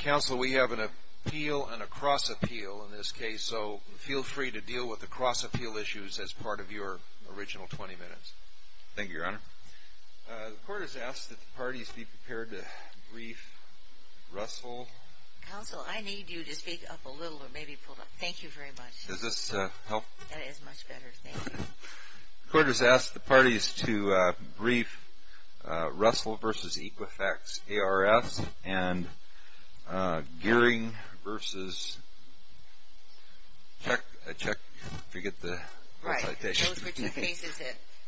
Council, we have an appeal and a cross-appeal in this case, so feel free to deal with the cross-appeal issues as part of your original 20 minutes. Thank you, Your Honor. The Court has asked that the parties be prepared to brief Russell v. Equifax ARS and Gearing v. Gleeson, and the Court will now proceed to review the case. The Court has asked that the parties be prepared to brief Russell v. Equifax ARS and Gearing v. Gearing v. Gearing v. Gleeson, and the Court will proceed to review the case. The Court has asked that the parties be prepared to brief Russell v. Equifax ARS and Gearing v. Gearing v. Gearing v. Gleeson, and the Court will proceed to review the case.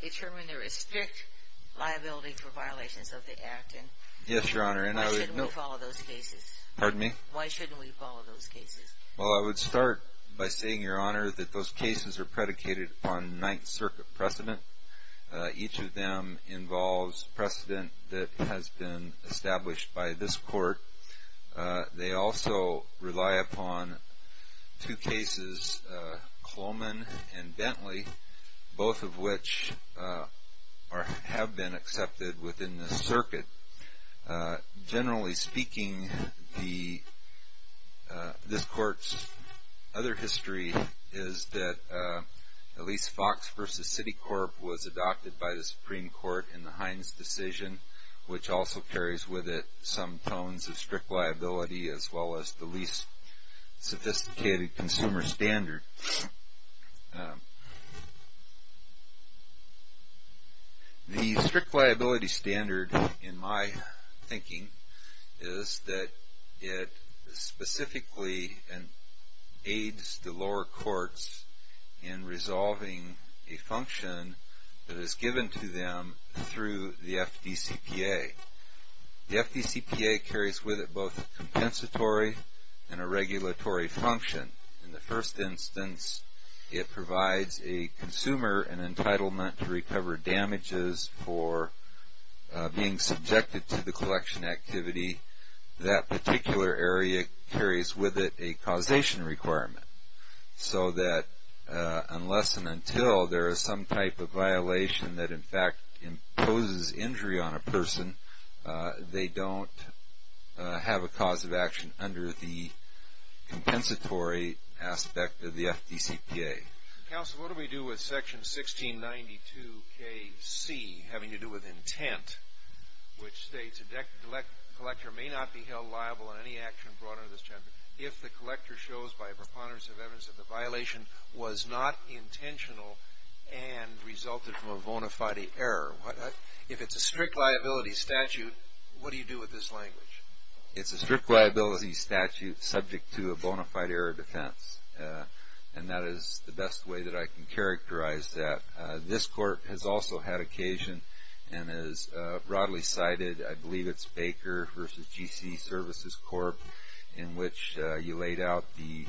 The strict liability standard, in my thinking, is that it specifically aids the lower courts in resolving a function that is given to them through the FDCPA. The FDCPA carries with it both a compensatory and a regulatory function. In the first instance, it provides a consumer an entitlement to recover damages for being subjected to the collection activity. That particular area carries with it a causation requirement, so that unless and until there is some type of violation that, in fact, imposes injury on a person, they don't have a cause of action under the compensatory aspect of the FDCPA. Counsel, what do we do with section 1692KC, having to do with intent, which states, A collector may not be held liable in any action brought under this chapter if the collector shows by a preponderance of evidence that the violation was not intentional and resulted from a bona fide error. If it's a strict liability statute, what do you do with this language? It's a strict liability statute subject to a bona fide error of defense, and that is the best way that I can characterize that. This Court has also had occasion, and as broadly cited, I believe it's Baker v. G.C. Services Corp., in which you laid out the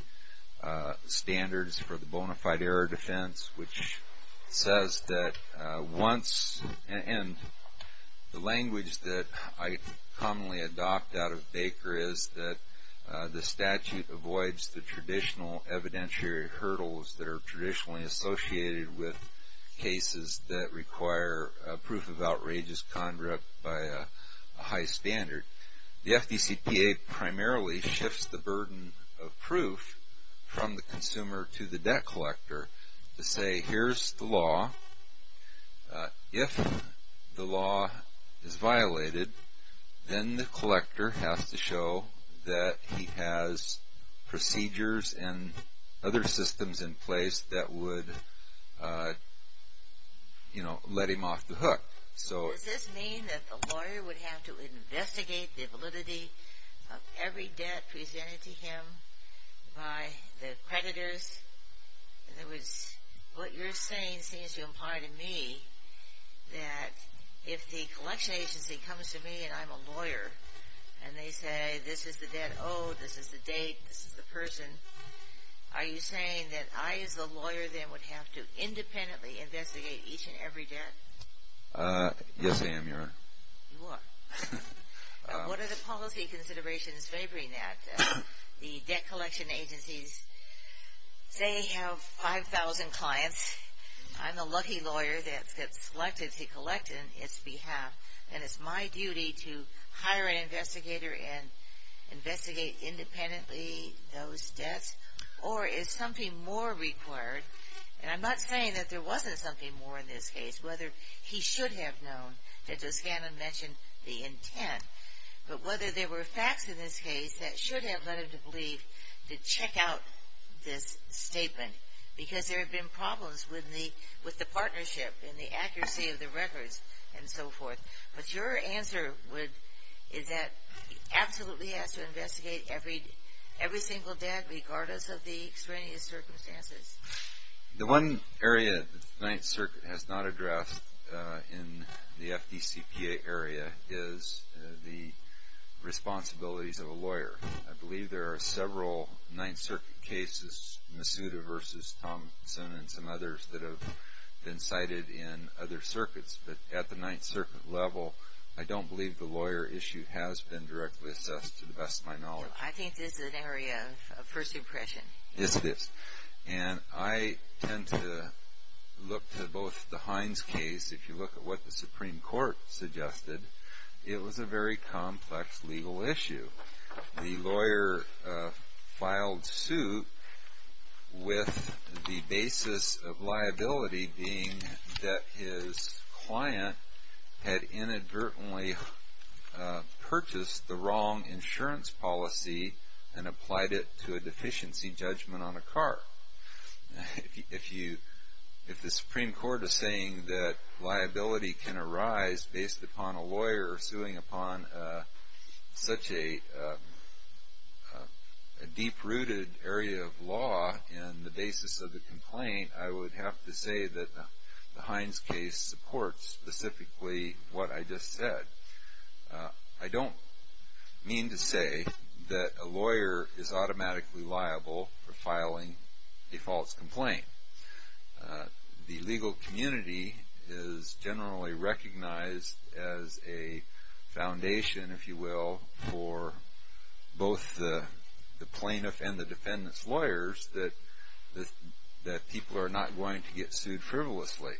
standards for the bona fide error of defense, which says that once, and the language that I commonly adopt out of Baker is that the statute avoids the traditional evidentiary hurdles that are traditionally associated with cases that require a proof of outrageous conduct by a high standard. The FDCPA primarily shifts the burden of proof from the consumer to the debt collector to say, here's the law. If the law is violated, then the collector has to show that he has procedures and other systems in place that would, you know, let him off the hook. Does this mean that the lawyer would have to investigate the validity of every debt presented to him by the creditors? In other words, what you're saying seems to imply to me that if the collection agency comes to me and I'm a lawyer, and they say, this is the debt owed, this is the date, this is the person, are you saying that I as a lawyer then would have to independently investigate each and every debt? Yes, I am, Your Honor. You are. What are the policy considerations favoring that? The debt collection agencies, say, have 5,000 clients, I'm the lucky lawyer that gets selected to collect on its behalf, and it's my duty to hire an investigator and investigate independently those debts? Or is something more required, and I'm not saying that there wasn't something more in this case, whether he should have known, as Shannon mentioned, the intent, but whether there were facts in this case that should have led him to believe to check out this statement, because there have been problems with the partnership and the accuracy of the records and so forth, but your answer is that he absolutely has to investigate every single debt regardless of the extraneous circumstances? The one area that the Ninth Circuit has not addressed in the FDCPA area is the responsibilities of a lawyer. I believe there are several Ninth Circuit cases, Masuda v. Thomson and some others that have been cited in other circuits, but at the Ninth Circuit level, I don't believe the lawyer issue has been directly assessed to the best of my knowledge. I think this is an area of first impression. And I tend to look to both the Hines case, if you look at what the Supreme Court suggested, it was a very complex legal issue. The lawyer filed suit with the basis of liability being that his client had inadvertently purchased the wrong insurance policy and applied it to a deficiency judgment on a car. If the Supreme Court is saying that liability can arise based upon a lawyer suing upon such a deep-rooted area of law and the basis of the complaint, I would have to say that the Hines case supports specifically what I just said. I don't mean to say that a lawyer is automatically liable for filing a false complaint. The legal community is generally recognized as a foundation, if you will, for both the plaintiff and the defendant's lawyers that people are not going to get sued frivolously.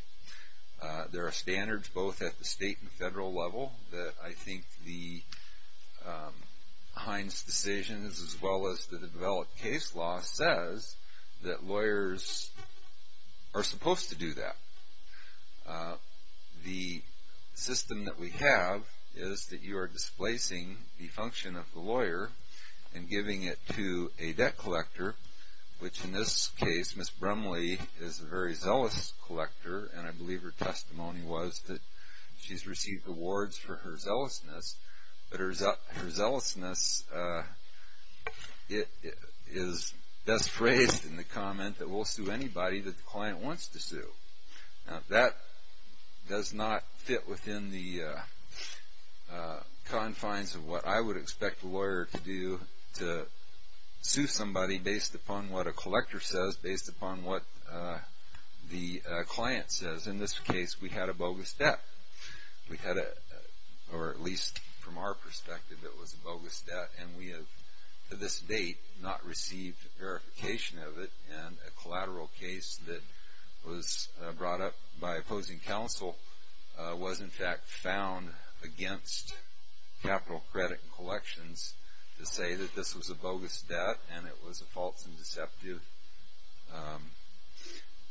There are standards both at the state and federal level that I think the Hines decisions as well as the developed case law says that lawyers are supposed to do that. The system that we have is that you are displacing the function of the lawyer and giving it to a collector, which in this case, Ms. Brumley is a very zealous collector and I believe her testimony was that she's received awards for her zealousness, but her zealousness is best phrased in the comment that we'll sue anybody that the client wants to sue. That does not fit within the confines of what I would expect a lawyer to do to sue somebody based upon what a collector says, based upon what the client says. In this case, we had a bogus debt, or at least from our perspective, it was a bogus debt and we have to this date not received verification of it and a collateral case that was brought up by opposing counsel was in fact found against Capital Credit and Collections to say that this was a bogus debt and it was a false and deceptive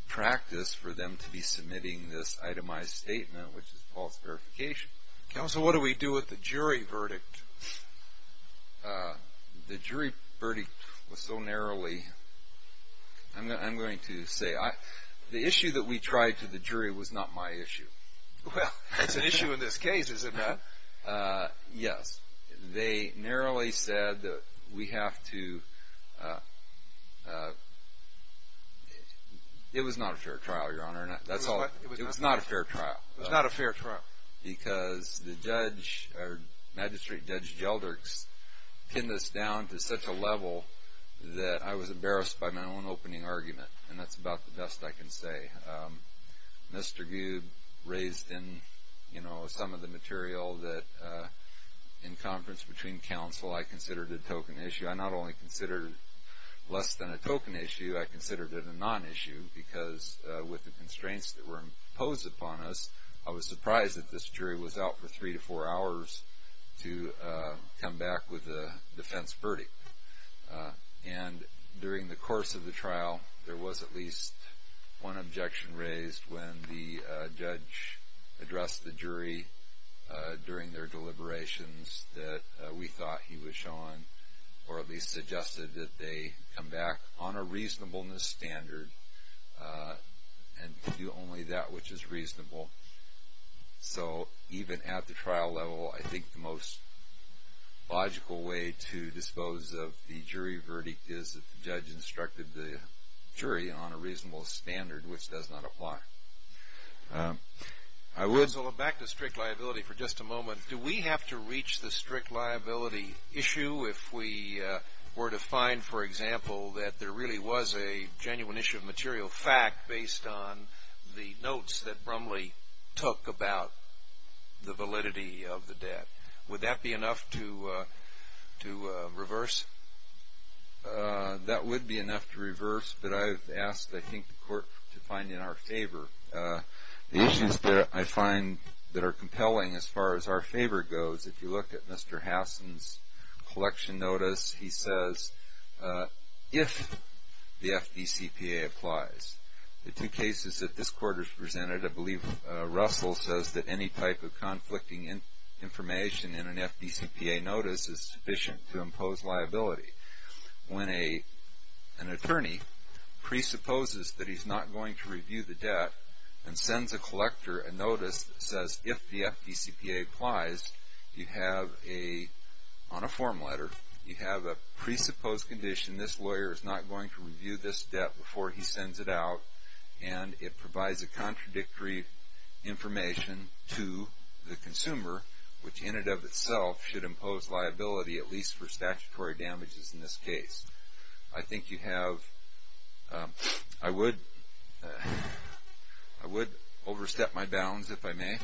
practice for them to be submitting this itemized statement, which is false verification. Counsel, what do we do with the jury verdict? The jury verdict was so narrowly, I'm going to say, the issue that we tried to the jury was not my issue. Well, it's an issue in this case, is it not? Yes, they narrowly said that we have to, it was not a fair trial, Your Honor, and that's all, it was not a fair trial. It was not a fair trial. Because the judge, or Magistrate Judge Gelder, pinned this down to such a level that I was embarrassed by my own opening argument, and that's about the best I can say. Mr. Goode raised in, you know, some of the material that in conference between counsel, I considered a token issue. I not only considered less than a token issue, I considered it a non-issue because with the this jury was out for three to four hours to come back with a defense verdict. And during the course of the trial, there was at least one objection raised when the judge addressed the jury during their deliberations that we thought he was showing, or at least suggested that they come back on a reasonableness standard and do only that which is reasonable. So even at the trial level, I think the most logical way to dispose of the jury verdict is that the judge instructed the jury on a reasonable standard, which does not apply. I would go back to strict liability for just a moment. Do we have to reach the strict liability issue if we were to find, for example, that there took about the validity of the debt? Would that be enough to reverse? That would be enough to reverse, but I've asked, I think, the court to find in our favor the issues that I find that are compelling as far as our favor goes. If you look at Mr. Hassan's collection notice, he says, if the FDCPA applies, the two Russell says that any type of conflicting information in an FDCPA notice is sufficient to impose liability. When an attorney presupposes that he's not going to review the debt and sends a collector a notice that says, if the FDCPA applies, you have a, on a form letter, you have a presupposed condition. This lawyer is not going to review this debt before he sends it out, and it provides a information to the consumer, which in and of itself should impose liability, at least for statutory damages in this case. I think you have, I would, I would overstep my bounds if I may.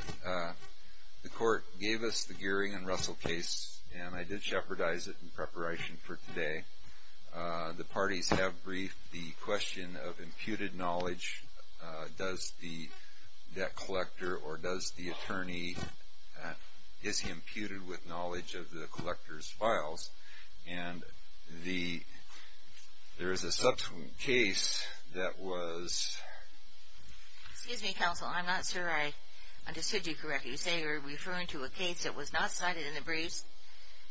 The court gave us the Gearing and Russell case, and I did shepherdize it in preparation for today. The parties have briefed the question of imputed knowledge. Does the debt collector or does the attorney, is he imputed with knowledge of the collector's files? And the, there is a subsequent case that was. Excuse me, counsel. I'm not sure I understood you correctly. You say you're referring to a case that was not cited in the briefs.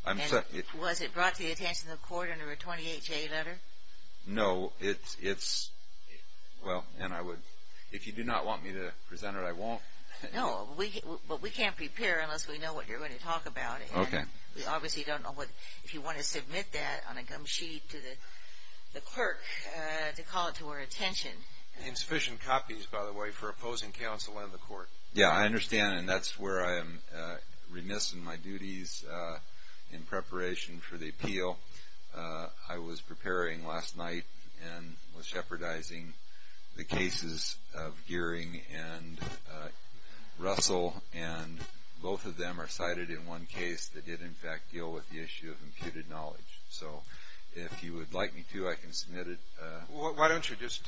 I'm sorry. Was it brought to the attention of the court under a 28-J letter? No, it's, it's. Well, and I would, if you do not want me to present it, I won't. No, we, but we can't prepare unless we know what you're going to talk about. Okay. We obviously don't know what, if you want to submit that on a gum sheet to the, the clerk, to call it to our attention. Insufficient copies, by the way, for opposing counsel and the court. Yeah, I understand. And that's where I am remiss in my duties in preparation for the appeal. I was preparing last night and was jeopardizing the cases of Gearing and Russell, and both of them are cited in one case that did in fact deal with the issue of imputed knowledge. So if you would like me to, I can submit it. Well, why don't you just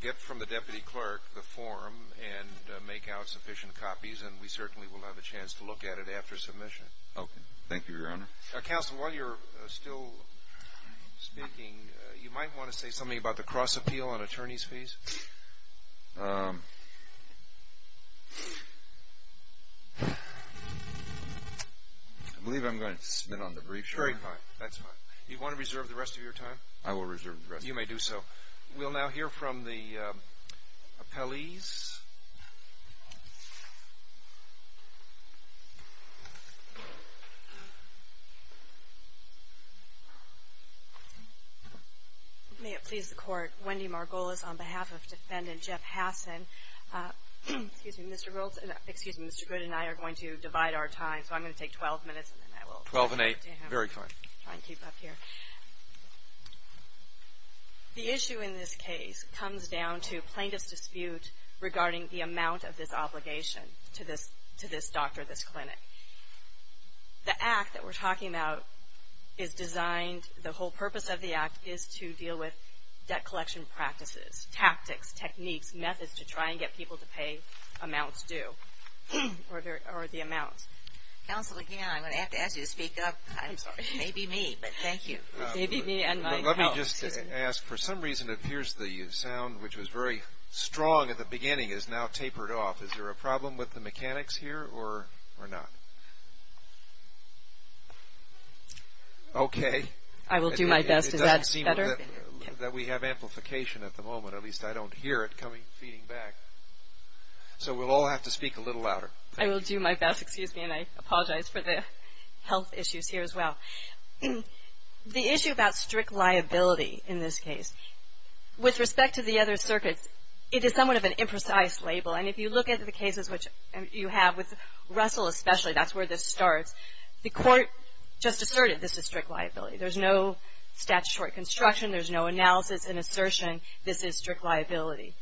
get from the deputy clerk the form and make out sufficient copies, and we certainly will have a chance to look at it after submission. Okay. Thank you, Your Honor. Counselor, while you're still speaking, you might want to say something about the cross appeal on attorney's fees. Um, I believe I'm going to submit on the brief. Sure. That's fine. You want to reserve the rest of your time? I will reserve the rest. You may do so. We'll now hear from the, uh, appellees. May it please the court. Wendy Margolis on behalf of defendant Jeff Hassan, uh, excuse me, Mr. Goldson, excuse me, Mr. Good and I are going to divide our time. So I'm going to take 12 minutes and then I will try and keep up here. The issue in this case comes down to plaintiff's dispute regarding the amount of this obligation to this, to this doctor, this clinic. The act that we're talking about is designed, the whole purpose of the act is to deal with debt collection practices, tactics, techniques, methods to try and get people to pay amounts due or the, or the amounts. Counselor, again, I'm going to have to ask you to speak up. I'm sorry. It may be me, but thank you. It may be me and my health. Let me just ask, for some reason it appears the sound, which was very strong at the beginning, is now tapered off. Is there a problem with the mechanics here or, or not? Okay. I will do my best. Is that better? That we have amplification at the moment. At least I don't hear it coming, feeding back. So we'll all have to speak a little louder. I will do my best. Excuse me. And I apologize for the health issues here as well. The issue about strict liability in this case, with respect to the other circuits, it is somewhat of an imprecise label. And if you look at the cases, which you have with Russell especially, that's where this starts, the court just asserted this is strict liability. There's no statutory construction. There's no analysis and assertion. This is strict liability.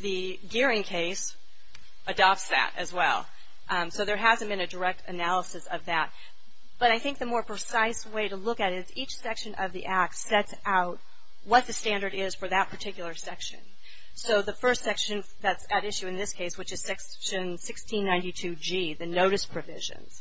The Gearing case adopts that as well. So there hasn't been a direct analysis of that. But I think the more precise way to look at it is each section of the act sets out what the standard is for that particular section. So the first section that's at issue in this case, which is section 1692G, the notice provisions.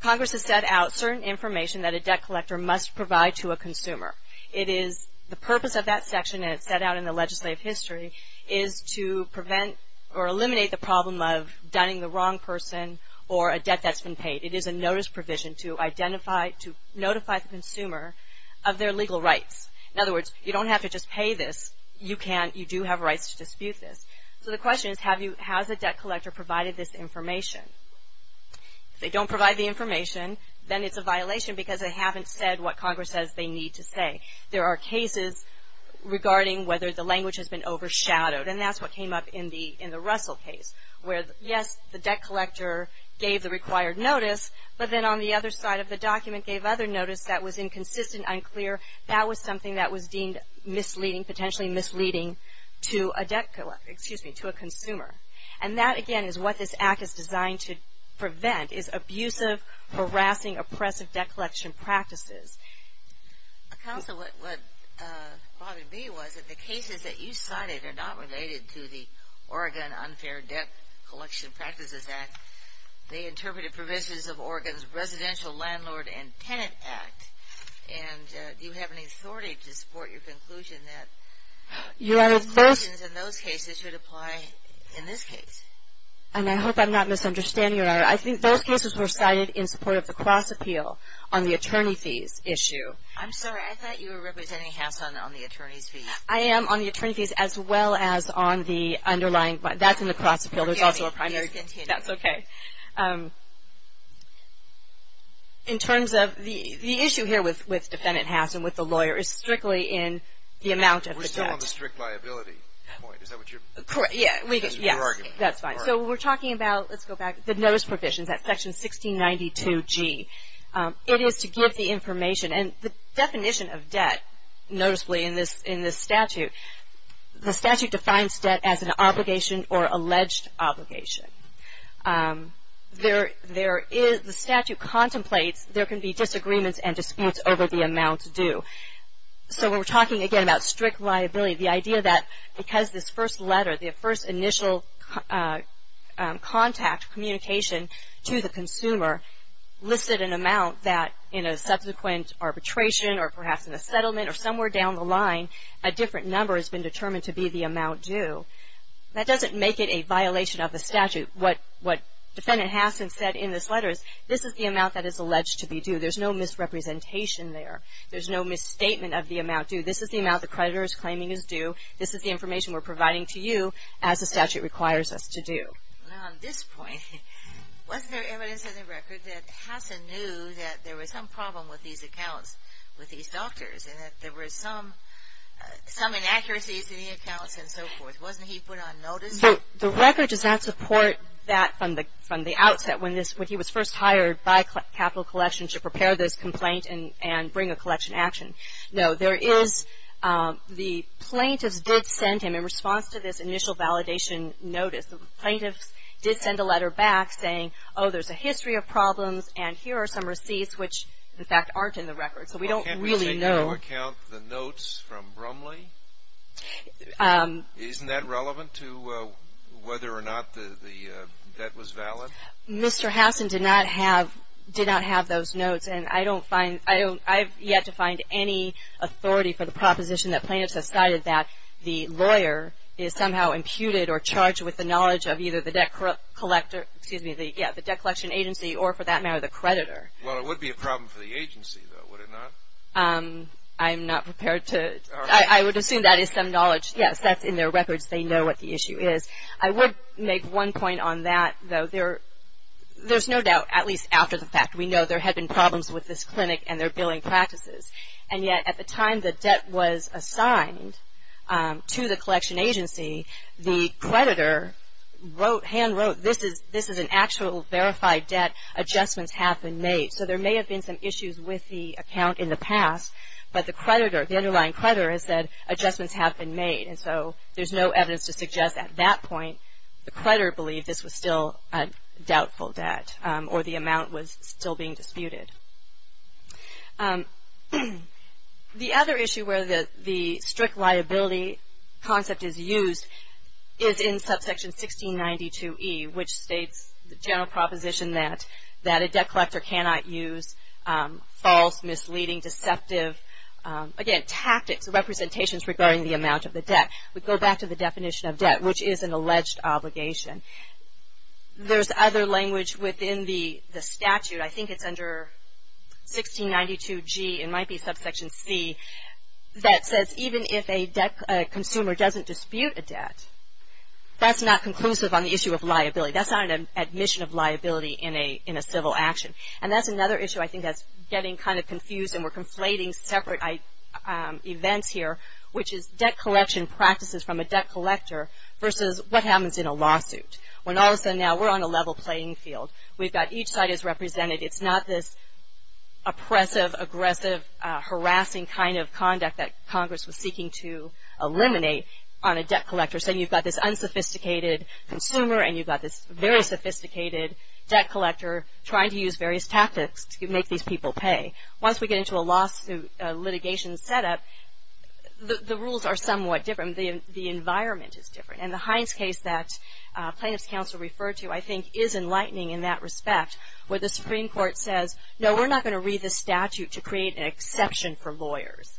Congress has set out certain information that a debt collector must provide to a consumer. It is, the purpose of that section, and it's set out in the legislative history, is to prevent or eliminate the problem of dunning the wrong person or a debt that's been paid. It is a notice provision to identify, to notify the consumer of their legal rights. In other words, you don't have to just pay this. You can, you do have rights to dispute this. So the question is, have you, has the debt collector provided this information? If they don't provide the information, then it's a violation because they haven't said what Congress says they need to say. There are cases regarding whether the language has been overshadowed, and that's what came up in the Russell case. Where, yes, the debt collector gave the required notice, but then on the other side of the document gave other notice that was inconsistent, unclear. That was something that was deemed misleading, potentially misleading to a debt collector, excuse me, to a consumer. And that, again, is what this Act is designed to prevent, is abusive, harassing, oppressive debt collection practices. Counsel, what bothered me was that the cases that you cited are not related to the Oregon Unfair and Debt Collection Practices Act. They interpreted provisions of Oregon's Residential Landlord and Tenant Act, and do you have any authority to support your conclusion that those cases should apply in this case? And I hope I'm not misunderstanding you, Ira. I think those cases were cited in support of the cross-appeal on the attorney fees issue. I'm sorry, I thought you were representing Hassell on the attorney's fees. I am on the attorney fees as well as on the underlying, that's in the cross-appeal. There's also a primary, that's okay. In terms of the issue here with defendant Hassell, with the lawyer, is strictly in the amount of the debt. We're still on the strict liability point. Is that what you're? Correct. Yeah. We get, yeah. That's fine. So, we're talking about, let's go back, the notice provisions at section 1692G. It is to give the information, and the definition of debt, noticeably, in this statute, the statute defines debt as an obligation or alleged obligation. There is, the statute contemplates, there can be disagreements and disputes over the amount due. So, when we're talking, again, about strict liability, the idea that because this first letter, the first initial contact, communication to the consumer, listed an amount that, in a subsequent arbitration, or perhaps in a settlement, or somewhere down the line, a different number has been determined to be the amount due. That doesn't make it a violation of the statute. What defendant Hassell said in this letter is, this is the amount that is alleged to be due. There's no misrepresentation there. There's no misstatement of the amount due. This is the amount the creditor is claiming is due. This is the information we're providing to you, as the statute requires us to do. Now, on this point, was there evidence in the record that Hassell knew that there was some problem with these accounts, with these doctors, and that there were some inaccuracies in the accounts, and so forth? Wasn't he put on notice? So, the record does not support that from the outset, when he was first hired by Capital Collections to prepare this complaint and bring a collection action. No, there is, the plaintiffs did send him, in response to this initial validation notice, the plaintiffs did send a letter back saying, oh, there's a history of problems, and here are some receipts, which, in fact, aren't in the record. So, we don't really know. To account the notes from Brumley, isn't that relevant to whether or not the debt was valid? Mr. Hassell did not have those notes, and I don't find, I've yet to find any authority for the proposition that plaintiffs have cited that the lawyer is somehow imputed or charged with the knowledge of either the debt collector, excuse me, the debt collection agency, or for that matter, the creditor. Well, it would be a problem for the agency, though, would it not? I'm not prepared to, I would assume that is some knowledge. Yes, that's in their records. They know what the issue is. I would make one point on that, though. There's no doubt, at least after the fact, we know there had been problems with this clinic and their billing practices, and yet, at the time the debt was assigned to the collection agency, the creditor wrote, hand wrote, this is an actual verified debt, adjustments have been made. So, there may have been some issues with the account in the past, but the creditor, the underlying creditor has said adjustments have been made, and so, there's no evidence to suggest at that point the creditor believed this was still a doubtful debt or the amount was still being disputed. The other issue where the strict liability concept is used is in subsection 1692E, which states the general proposition that a debt collector cannot use false, misleading, deceptive, again, tactics, representations regarding the amount of the debt. We go back to the definition of debt, which is an alleged obligation. There's other language within the statute, I think it's under 1692G, it might be subsection C, that says even if a debt consumer doesn't dispute a debt, that's not conclusive on the issue of liability. That's not an admission of liability in a civil action, and that's another issue, I think, that's getting kind of confused, and we're conflating separate events here, which is debt collection practices from a debt collector versus what happens in a lawsuit, when all of a sudden now we're on a level playing field. We've got each side is represented. It's not this oppressive, aggressive, harassing kind of conduct that Congress was seeking to eliminate on a debt collector, saying you've got this unsophisticated consumer, and you've got this very sophisticated debt collector trying to use various tactics to make these people pay. Once we get into a lawsuit litigation setup, the rules are somewhat different. The environment is different, and the Hines case that plaintiff's counsel referred to I think is enlightening in that respect, where the Supreme Court says, no, we're not going to read this statute to create an exception for lawyers,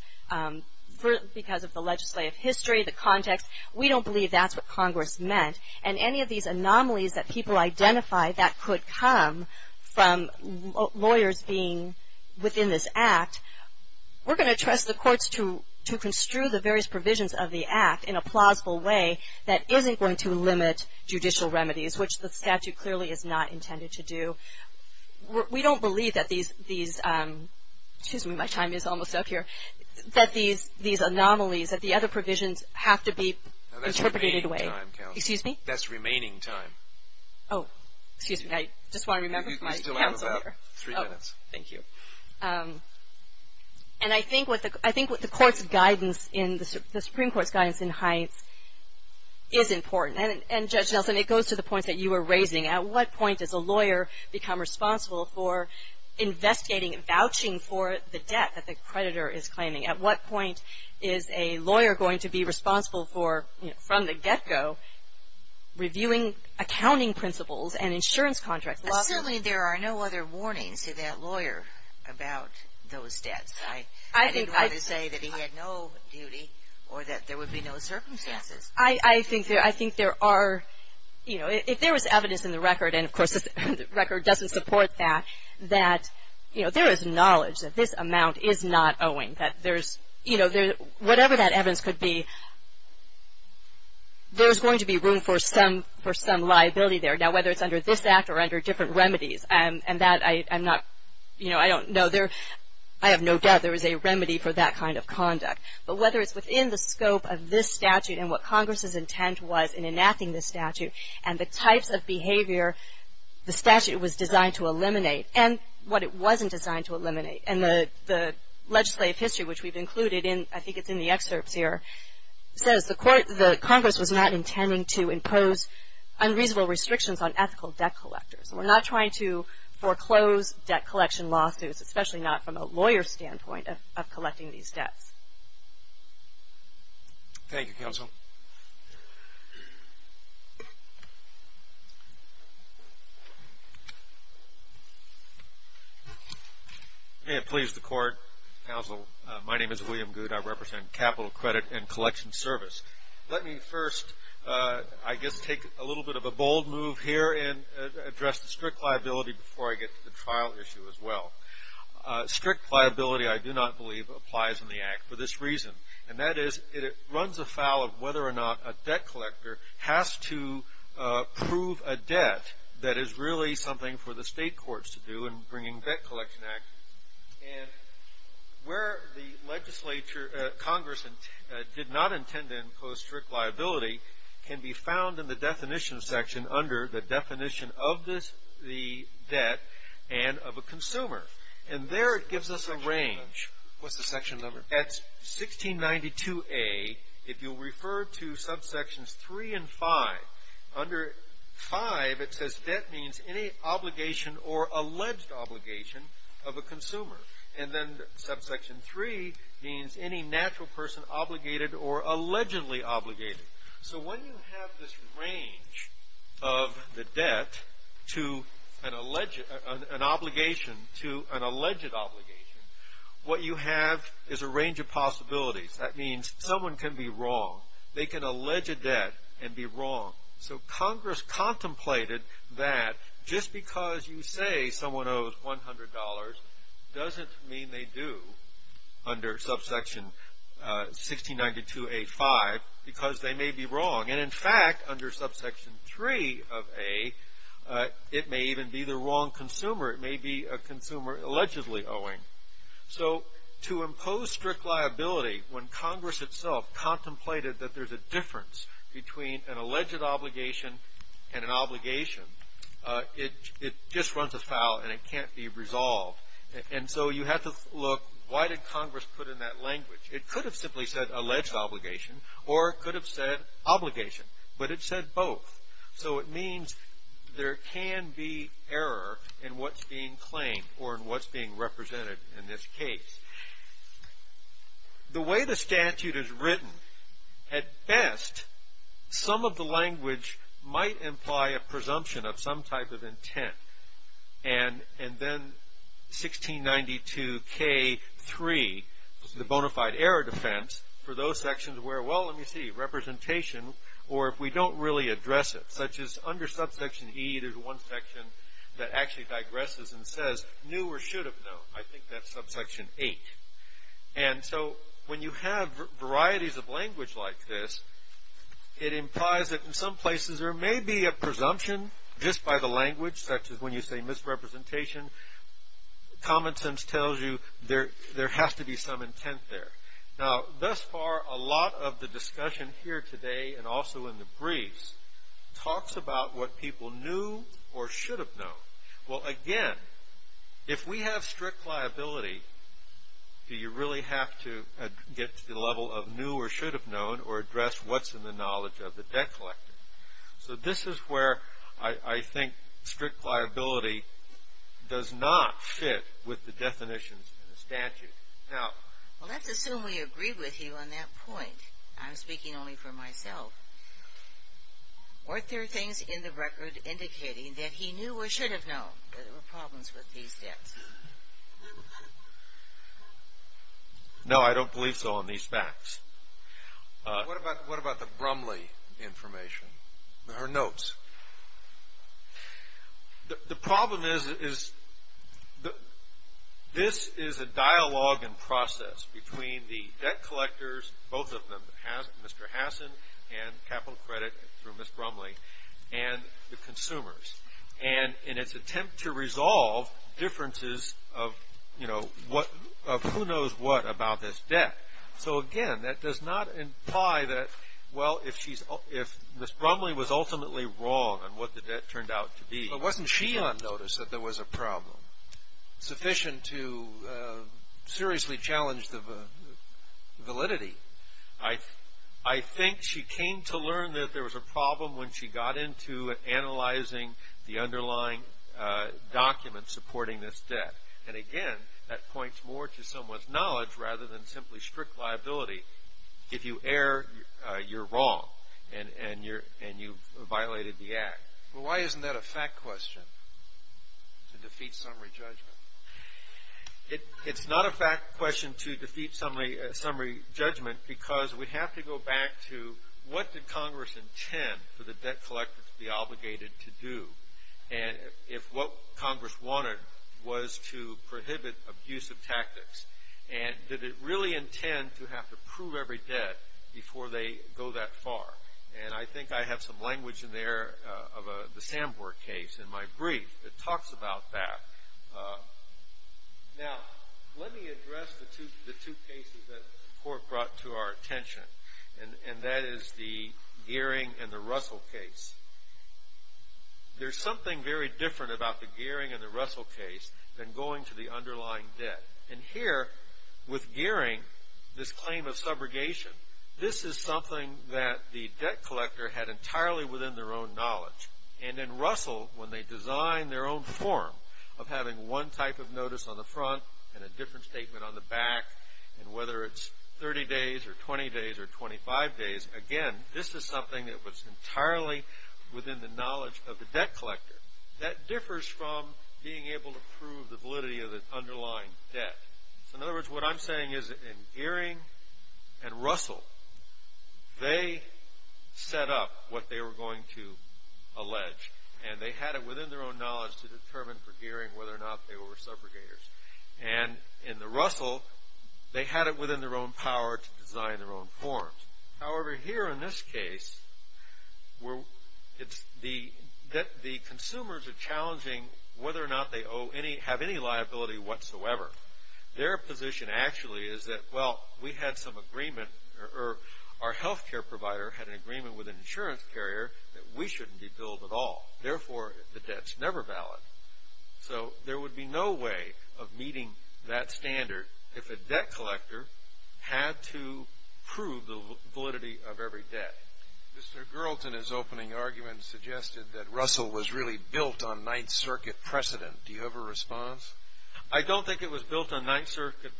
because of the legislative history, the context. We don't believe that's what Congress meant, and any of these anomalies that people identify that could come from lawyers being within this act, we're going to trust the courts to construe the various provisions of the act in a plausible way that isn't going to limit judicial remedies, which the statute clearly is not intended to do. We don't believe that these, excuse me, my time is almost up here, that these anomalies, that the other provisions have to be interpreted in a way. Excuse me? That's remaining time. Oh, excuse me. I just want to remember my counselor. We still have about three minutes. Thank you. And I think what the courts of guidance, the Supreme Court's guidance in Hines is important, and Judge Nelson, it goes to the points that you were raising. At what point does a lawyer become responsible for investigating and vouching for the debt that the creditor is claiming? At what point is a lawyer going to be responsible for, you know, from the get-go reviewing accounting principles and insurance contracts? Well, certainly there are no other warnings to that lawyer about those debts. I didn't want to say that he had no duty, or that there would be no circumstances. I think there are, you know, if there was evidence in the record, and of course the record doesn't support that, that, you know, there is knowledge that this amount is not owing, that there's, you know, whatever that evidence could be, there's going to be room for some liability there. Now, whether it's under this Act or under different remedies, and that I'm not, you know, I don't know, I have no doubt there is a remedy for that kind of conduct. But whether it's within the scope of this statute and what Congress's intent was in enacting this statute, and the types of behavior the statute was designed to eliminate, and what it wasn't designed to eliminate, and the legislative history, which we've included in, I think it's in the excerpts here, says the Congress was not intending to impose unreasonable restrictions on ethical debt collectors. We're not trying to foreclose debt collection lawsuits, especially not from a lawyer's standpoint of collecting these debts. Thank you, Counsel. May it please the Court, Counsel, my name is William Goode. I represent Capital Credit and Collection Service. Let me first, I guess, take a little bit of a bold move here and address the strict liability before I get to the trial issue as well. Strict liability, I do not believe, applies in the Act. For this reason, and that is it runs afoul of whether or not a debt collector has to prove a debt that is really something for the state courts to do in bringing Debt Collection Act, and where the legislature, Congress did not intend to impose strict liability can be found in the definition section under the definition of the debt and of a consumer. And there it gives us a range. What's the section number? That's 1692A. If you'll refer to subsections three and five, under five it says debt means any obligation or alleged obligation of a consumer. And then subsection three means any natural person obligated or allegedly obligated. So when you have this range of the debt to an alleged, an obligation to an alleged obligation, what you have is a range of possibilities. That means someone can be wrong. They can allege a debt and be wrong. So Congress contemplated that just because you say someone owes $100 doesn't mean they do under subsection 1692A.5 because they may be wrong. And in fact, under subsection three of A, it may even be the wrong consumer. It may be a consumer allegedly owing. So to impose strict liability when Congress itself contemplated that there's a difference between an alleged obligation and an obligation, it just runs afoul and it can't be resolved. And so you have to look, why did Congress put in that language? It could have simply said alleged obligation or it could have said obligation, but it said both. So it means there can be error in what's being claimed or in what's being represented in this case. The way the statute is written, at best, some of the language might imply a presumption of some type of intent and then 1692K3, the bona fide error defense for those sections where well, let me see, representation or if we don't really address it, such as under subsection E, there's one section that actually digresses and says knew or should have known. I think that's subsection H. And so when you have varieties of language like this, it implies that in some places there may be a presumption just by the language, such as when you say misrepresentation, common sense tells you there has to be some intent there. Now thus far, a lot of the discussion here today and also in the briefs talks about what people knew or should have known. Well, again, if we have strict liability, do you really have to get to the level of knew or should have known or address what's in the knowledge of the debt collector? So this is where I think strict liability does not fit with the definitions in the statute. Now, let's assume we agree with you on that point. I'm speaking only for myself. Weren't there things in the record indicating that he knew or should have known that there were problems with these debts? No, I don't believe so on these facts. What about the Brumley information, her notes? The problem is this is a dialogue and process between the debt collectors, both of them, Mr. Hassan and capital credit through Ms. Brumley, and the consumers. And in its attempt to resolve differences of, you know, what, of who knows what about this debt. So again, that does not imply that, well, if she's, if Ms. Brumley was ultimately wrong on what the debt turned out to be. But wasn't she on notice that there was a problem sufficient to seriously challenge the validity? I think she came to learn that there was a problem when she got into analyzing the underlying documents supporting this debt. And again, that points more to someone's knowledge rather than simply strict liability. If you err, you're wrong, and you've violated the act. Well, why isn't that a fact question to defeat summary judgment? It's not a fact question to defeat summary judgment, because we have to go back to what did Congress intend for the debt collectors to be obligated to do? And if what Congress wanted was to prohibit abusive tactics. And did it really intend to have to prove every debt before they go that far? And I think I have some language in there of the Sanborn case in my brief that talks about that. Now, let me address the two cases that the court brought to our attention. And that is the Gearing and the Russell case. There's something very different about the Gearing and the Russell case than going to the underlying debt. And here, with Gearing, this claim of subrogation, this is something that the debt collector had entirely within their own knowledge. And in Russell, when they designed their own form of having one type of notice on the front and a different statement on the back, and whether it's 30 days or 20 days or 25 days, again, this is something that was entirely within the knowledge of the debt collector. That differs from being able to prove the validity of the underlying debt. So in other words, what I'm saying is in Gearing and Russell, they set up what they were going to allege. And they had it within their own knowledge to determine for Gearing whether or not they were subrogators. And in the Russell, they had it within their own power to design their own forms. However, here in this case, the consumers are challenging whether or not they have any liability whatsoever. Their position actually is that, well, we had some agreement, or our healthcare provider had an agreement with an insurance carrier that we shouldn't be billed at all. Therefore, the debt's never valid. So there would be no way of meeting that standard if a debt collector had to prove the validity of every debt. Mr. Gerlton, his opening argument suggested that Russell was really built on Ninth Circuit precedent. Do you have a response? I don't think it was built on Ninth Circuit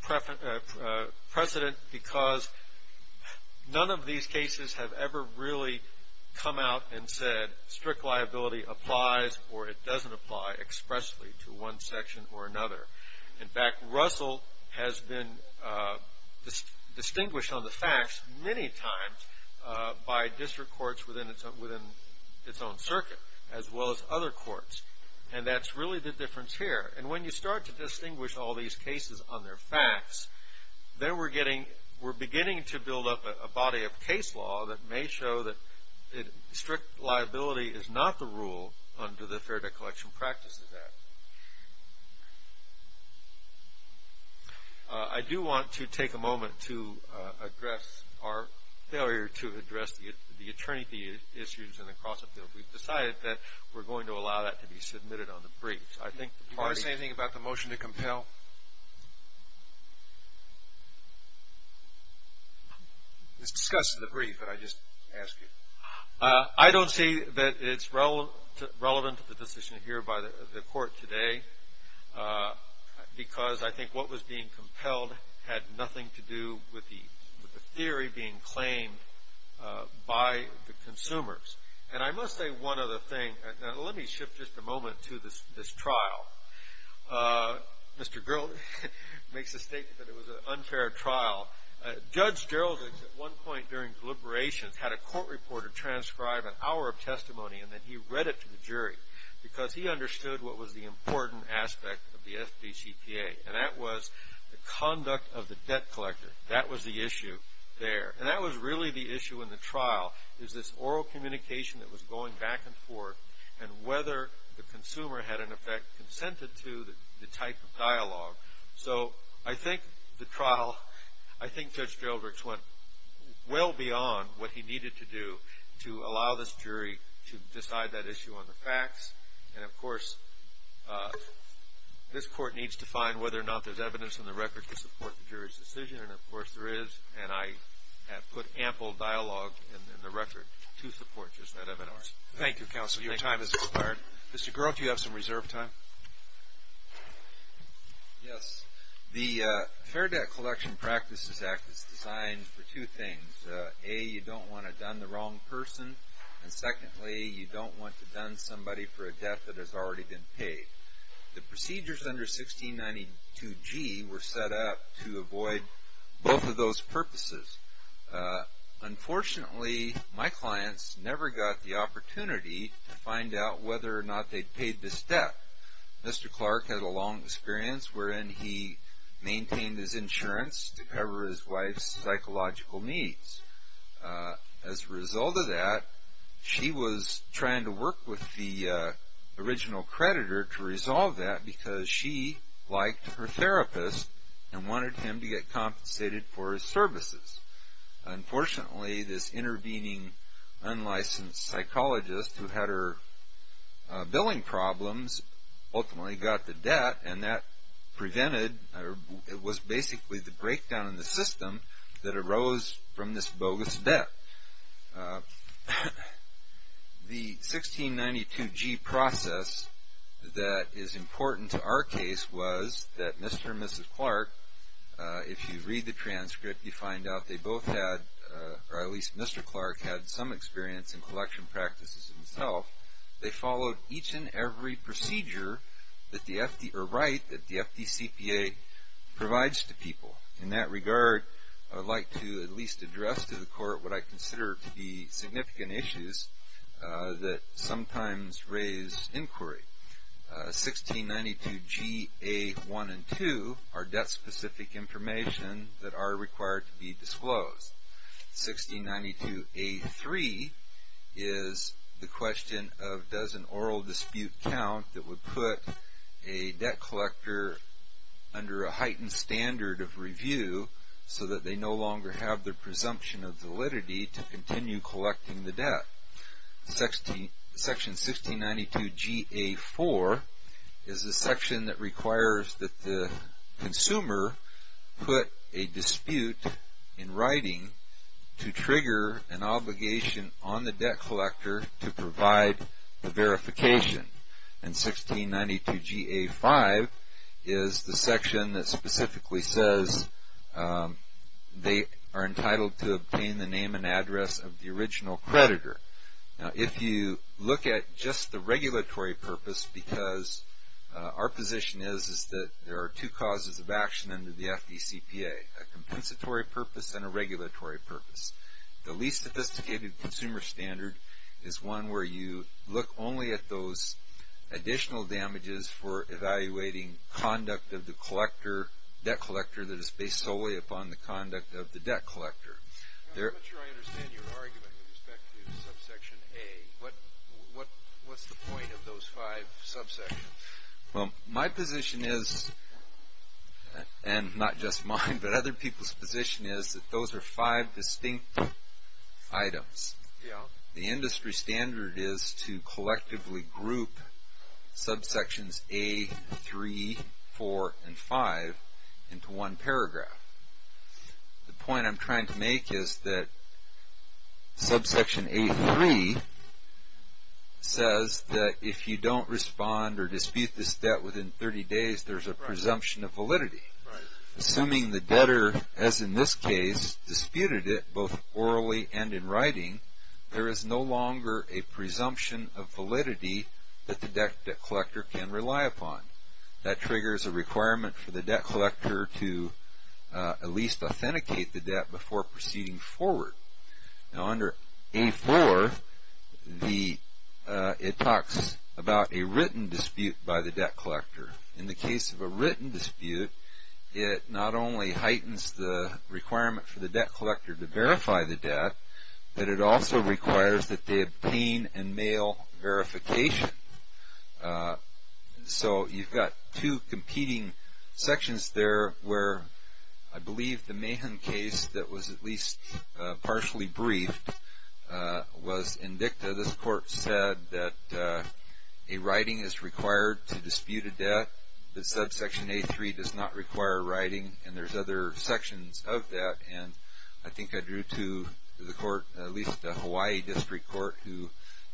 precedent because none of these cases have ever really come out and said strict liability applies or it doesn't apply expressly to one section or another. In fact, Russell has been distinguished on the facts many times by district courts within its own circuit, as well as other courts. And that's really the difference here. And when you start to distinguish all these cases on their facts, then we're beginning to build up a body of case law that may show that strict liability is not the rule under the Fair Debt Collection Practices Act. I do want to take a moment to address our failure to address the attorney issues and the cross-appeal. We've decided that we're going to allow that to be submitted on the briefs. I think the party -- Do you want to say anything about the motion to compel? It's discussed in the brief, but I just asked you. I don't see that it's relevant to the decision here by the court today because I think what was being compelled had nothing to do with the theory being claimed by the consumers. And I must say one other thing. Now, let me shift just a moment to this trial. Mr. Grill makes a statement that it was an unfair trial. Judge Geraldings at one point during deliberations had a court reporter transcribe an hour of testimony, and then he read it to the jury because he understood what was the important aspect of the FDCPA. And that was the conduct of the debt collector. That was the issue there. And that was really the issue in the trial, is this oral communication that was going back and forth, and whether the consumer had, in effect, consented to the type of dialogue. So I think the trial, I think Judge Geraldings went well beyond what he needed to do to allow this jury to decide that issue on the facts. And of course, this court needs to find whether or not there's evidence in the record to support the jury's decision, and of course there is. And I have put ample dialogue in the record to support just that evidence. Thank you, counsel. Your time has expired. Mr. Grill, do you have some reserve time? Yes. The Fair Debt Collection Practices Act is designed for two things. A, you don't want to done the wrong person. And secondly, you don't want to done somebody for a debt that has already been paid. The procedures under 1692G were set up to avoid both of those purposes. Unfortunately, my clients never got the opportunity to find out whether or not they'd paid this debt. Mr. Clark had a long experience wherein he maintained his insurance to cover his wife's psychological needs. As a result of that, she was trying to work with the original creditor to resolve that because she liked her therapist and wanted him to get compensated for his services. Unfortunately, this intervening unlicensed psychologist who had her billing problems ultimately got the debt and that prevented, or it was basically the breakdown in the system that arose from this bogus debt. The 1692G process that is important to our case was that Mr. and Mrs. Clark, if you read the transcript, you find out they both had, or at least Mr. Clark had some experience in collection practices himself. They followed each and every procedure that the FD, or right, that the FDCPA provides to people. In that regard, I would like to at least address to the court what I consider to be significant issues that sometimes raise inquiry. 1692Ga1 and 2 are debt-specific information that are required to be disclosed. 1692a3 is the question of does an oral dispute count that would put a debt collector under a heightened standard of review so that they no longer have the presumption of validity to continue collecting the debt. Section 1692Ga4 is the section that requires that the consumer put a dispute in writing to trigger an obligation on the debt collector to provide the verification. And 1692Ga5 is the section that specifically says they are entitled to obtain the name and address of the original creditor. Now, if you look at just the regulatory purpose, because our position is that there are two causes of action under the FDCPA, a compensatory purpose and a regulatory purpose. The least sophisticated consumer standard is one where you look only at those additional damages for evaluating conduct of the debt collector that is based solely upon the conduct of the debt collector. I'm not sure I understand your argument with respect to subsection A. What's the point of those five subsections? Well, my position is, and not just mine, but other people's position is that those are five distinct items. The industry standard is to collectively group subsections A, 3, 4, and 5 into one paragraph. The point I'm trying to make is that subsection A.3 says that if you don't respond or dispute this debt within 30 days, there's a presumption of validity. Assuming the debtor, as in this case, disputed it both orally and in writing, there is no longer a presumption of validity that the debt collector can rely upon. That triggers a requirement for the debt collector to at least authenticate the debt before proceeding forward. Now, under A.4, it talks about a written dispute by the debt collector. In the case of a written dispute, it not only heightens the requirement for the debt collector to verify the debt, but it also requires that they obtain and mail verification. So, you've got two competing sections there where I believe the Mahan case that was at least partially briefed was indicted. This court said that a writing is required to dispute a debt. The subsection A.3 does not require writing, and there's other sections of that. And I think I drew to the court, at least the Hawaii District Court, who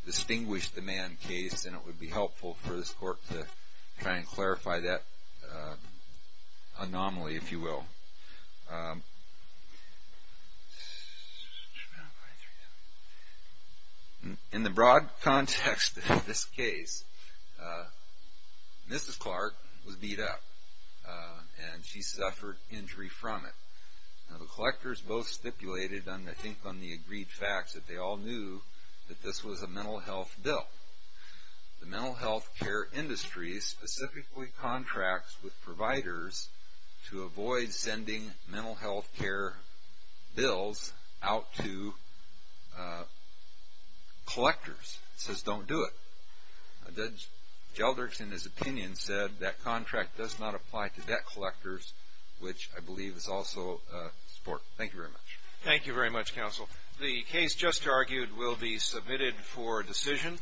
distinguished the Mahan case, and it would be helpful for this court to try and clarify that anomaly, if you will. In the broad context of this case, Mrs. Clark was beat up, and she suffered injury from it. Now, the collectors both stipulated, and I think on the agreed facts, that they all knew that this was a mental health bill. The mental health care industry specifically contracts with providers to avoid sending mental health care bills out to collectors. It says, don't do it. Judge Gelderts, in his opinion, said that contract does not apply to debt collectors, which I believe is also a sport. Thank you very much. Thank you very much, counsel. The case just argued will be submitted for decision.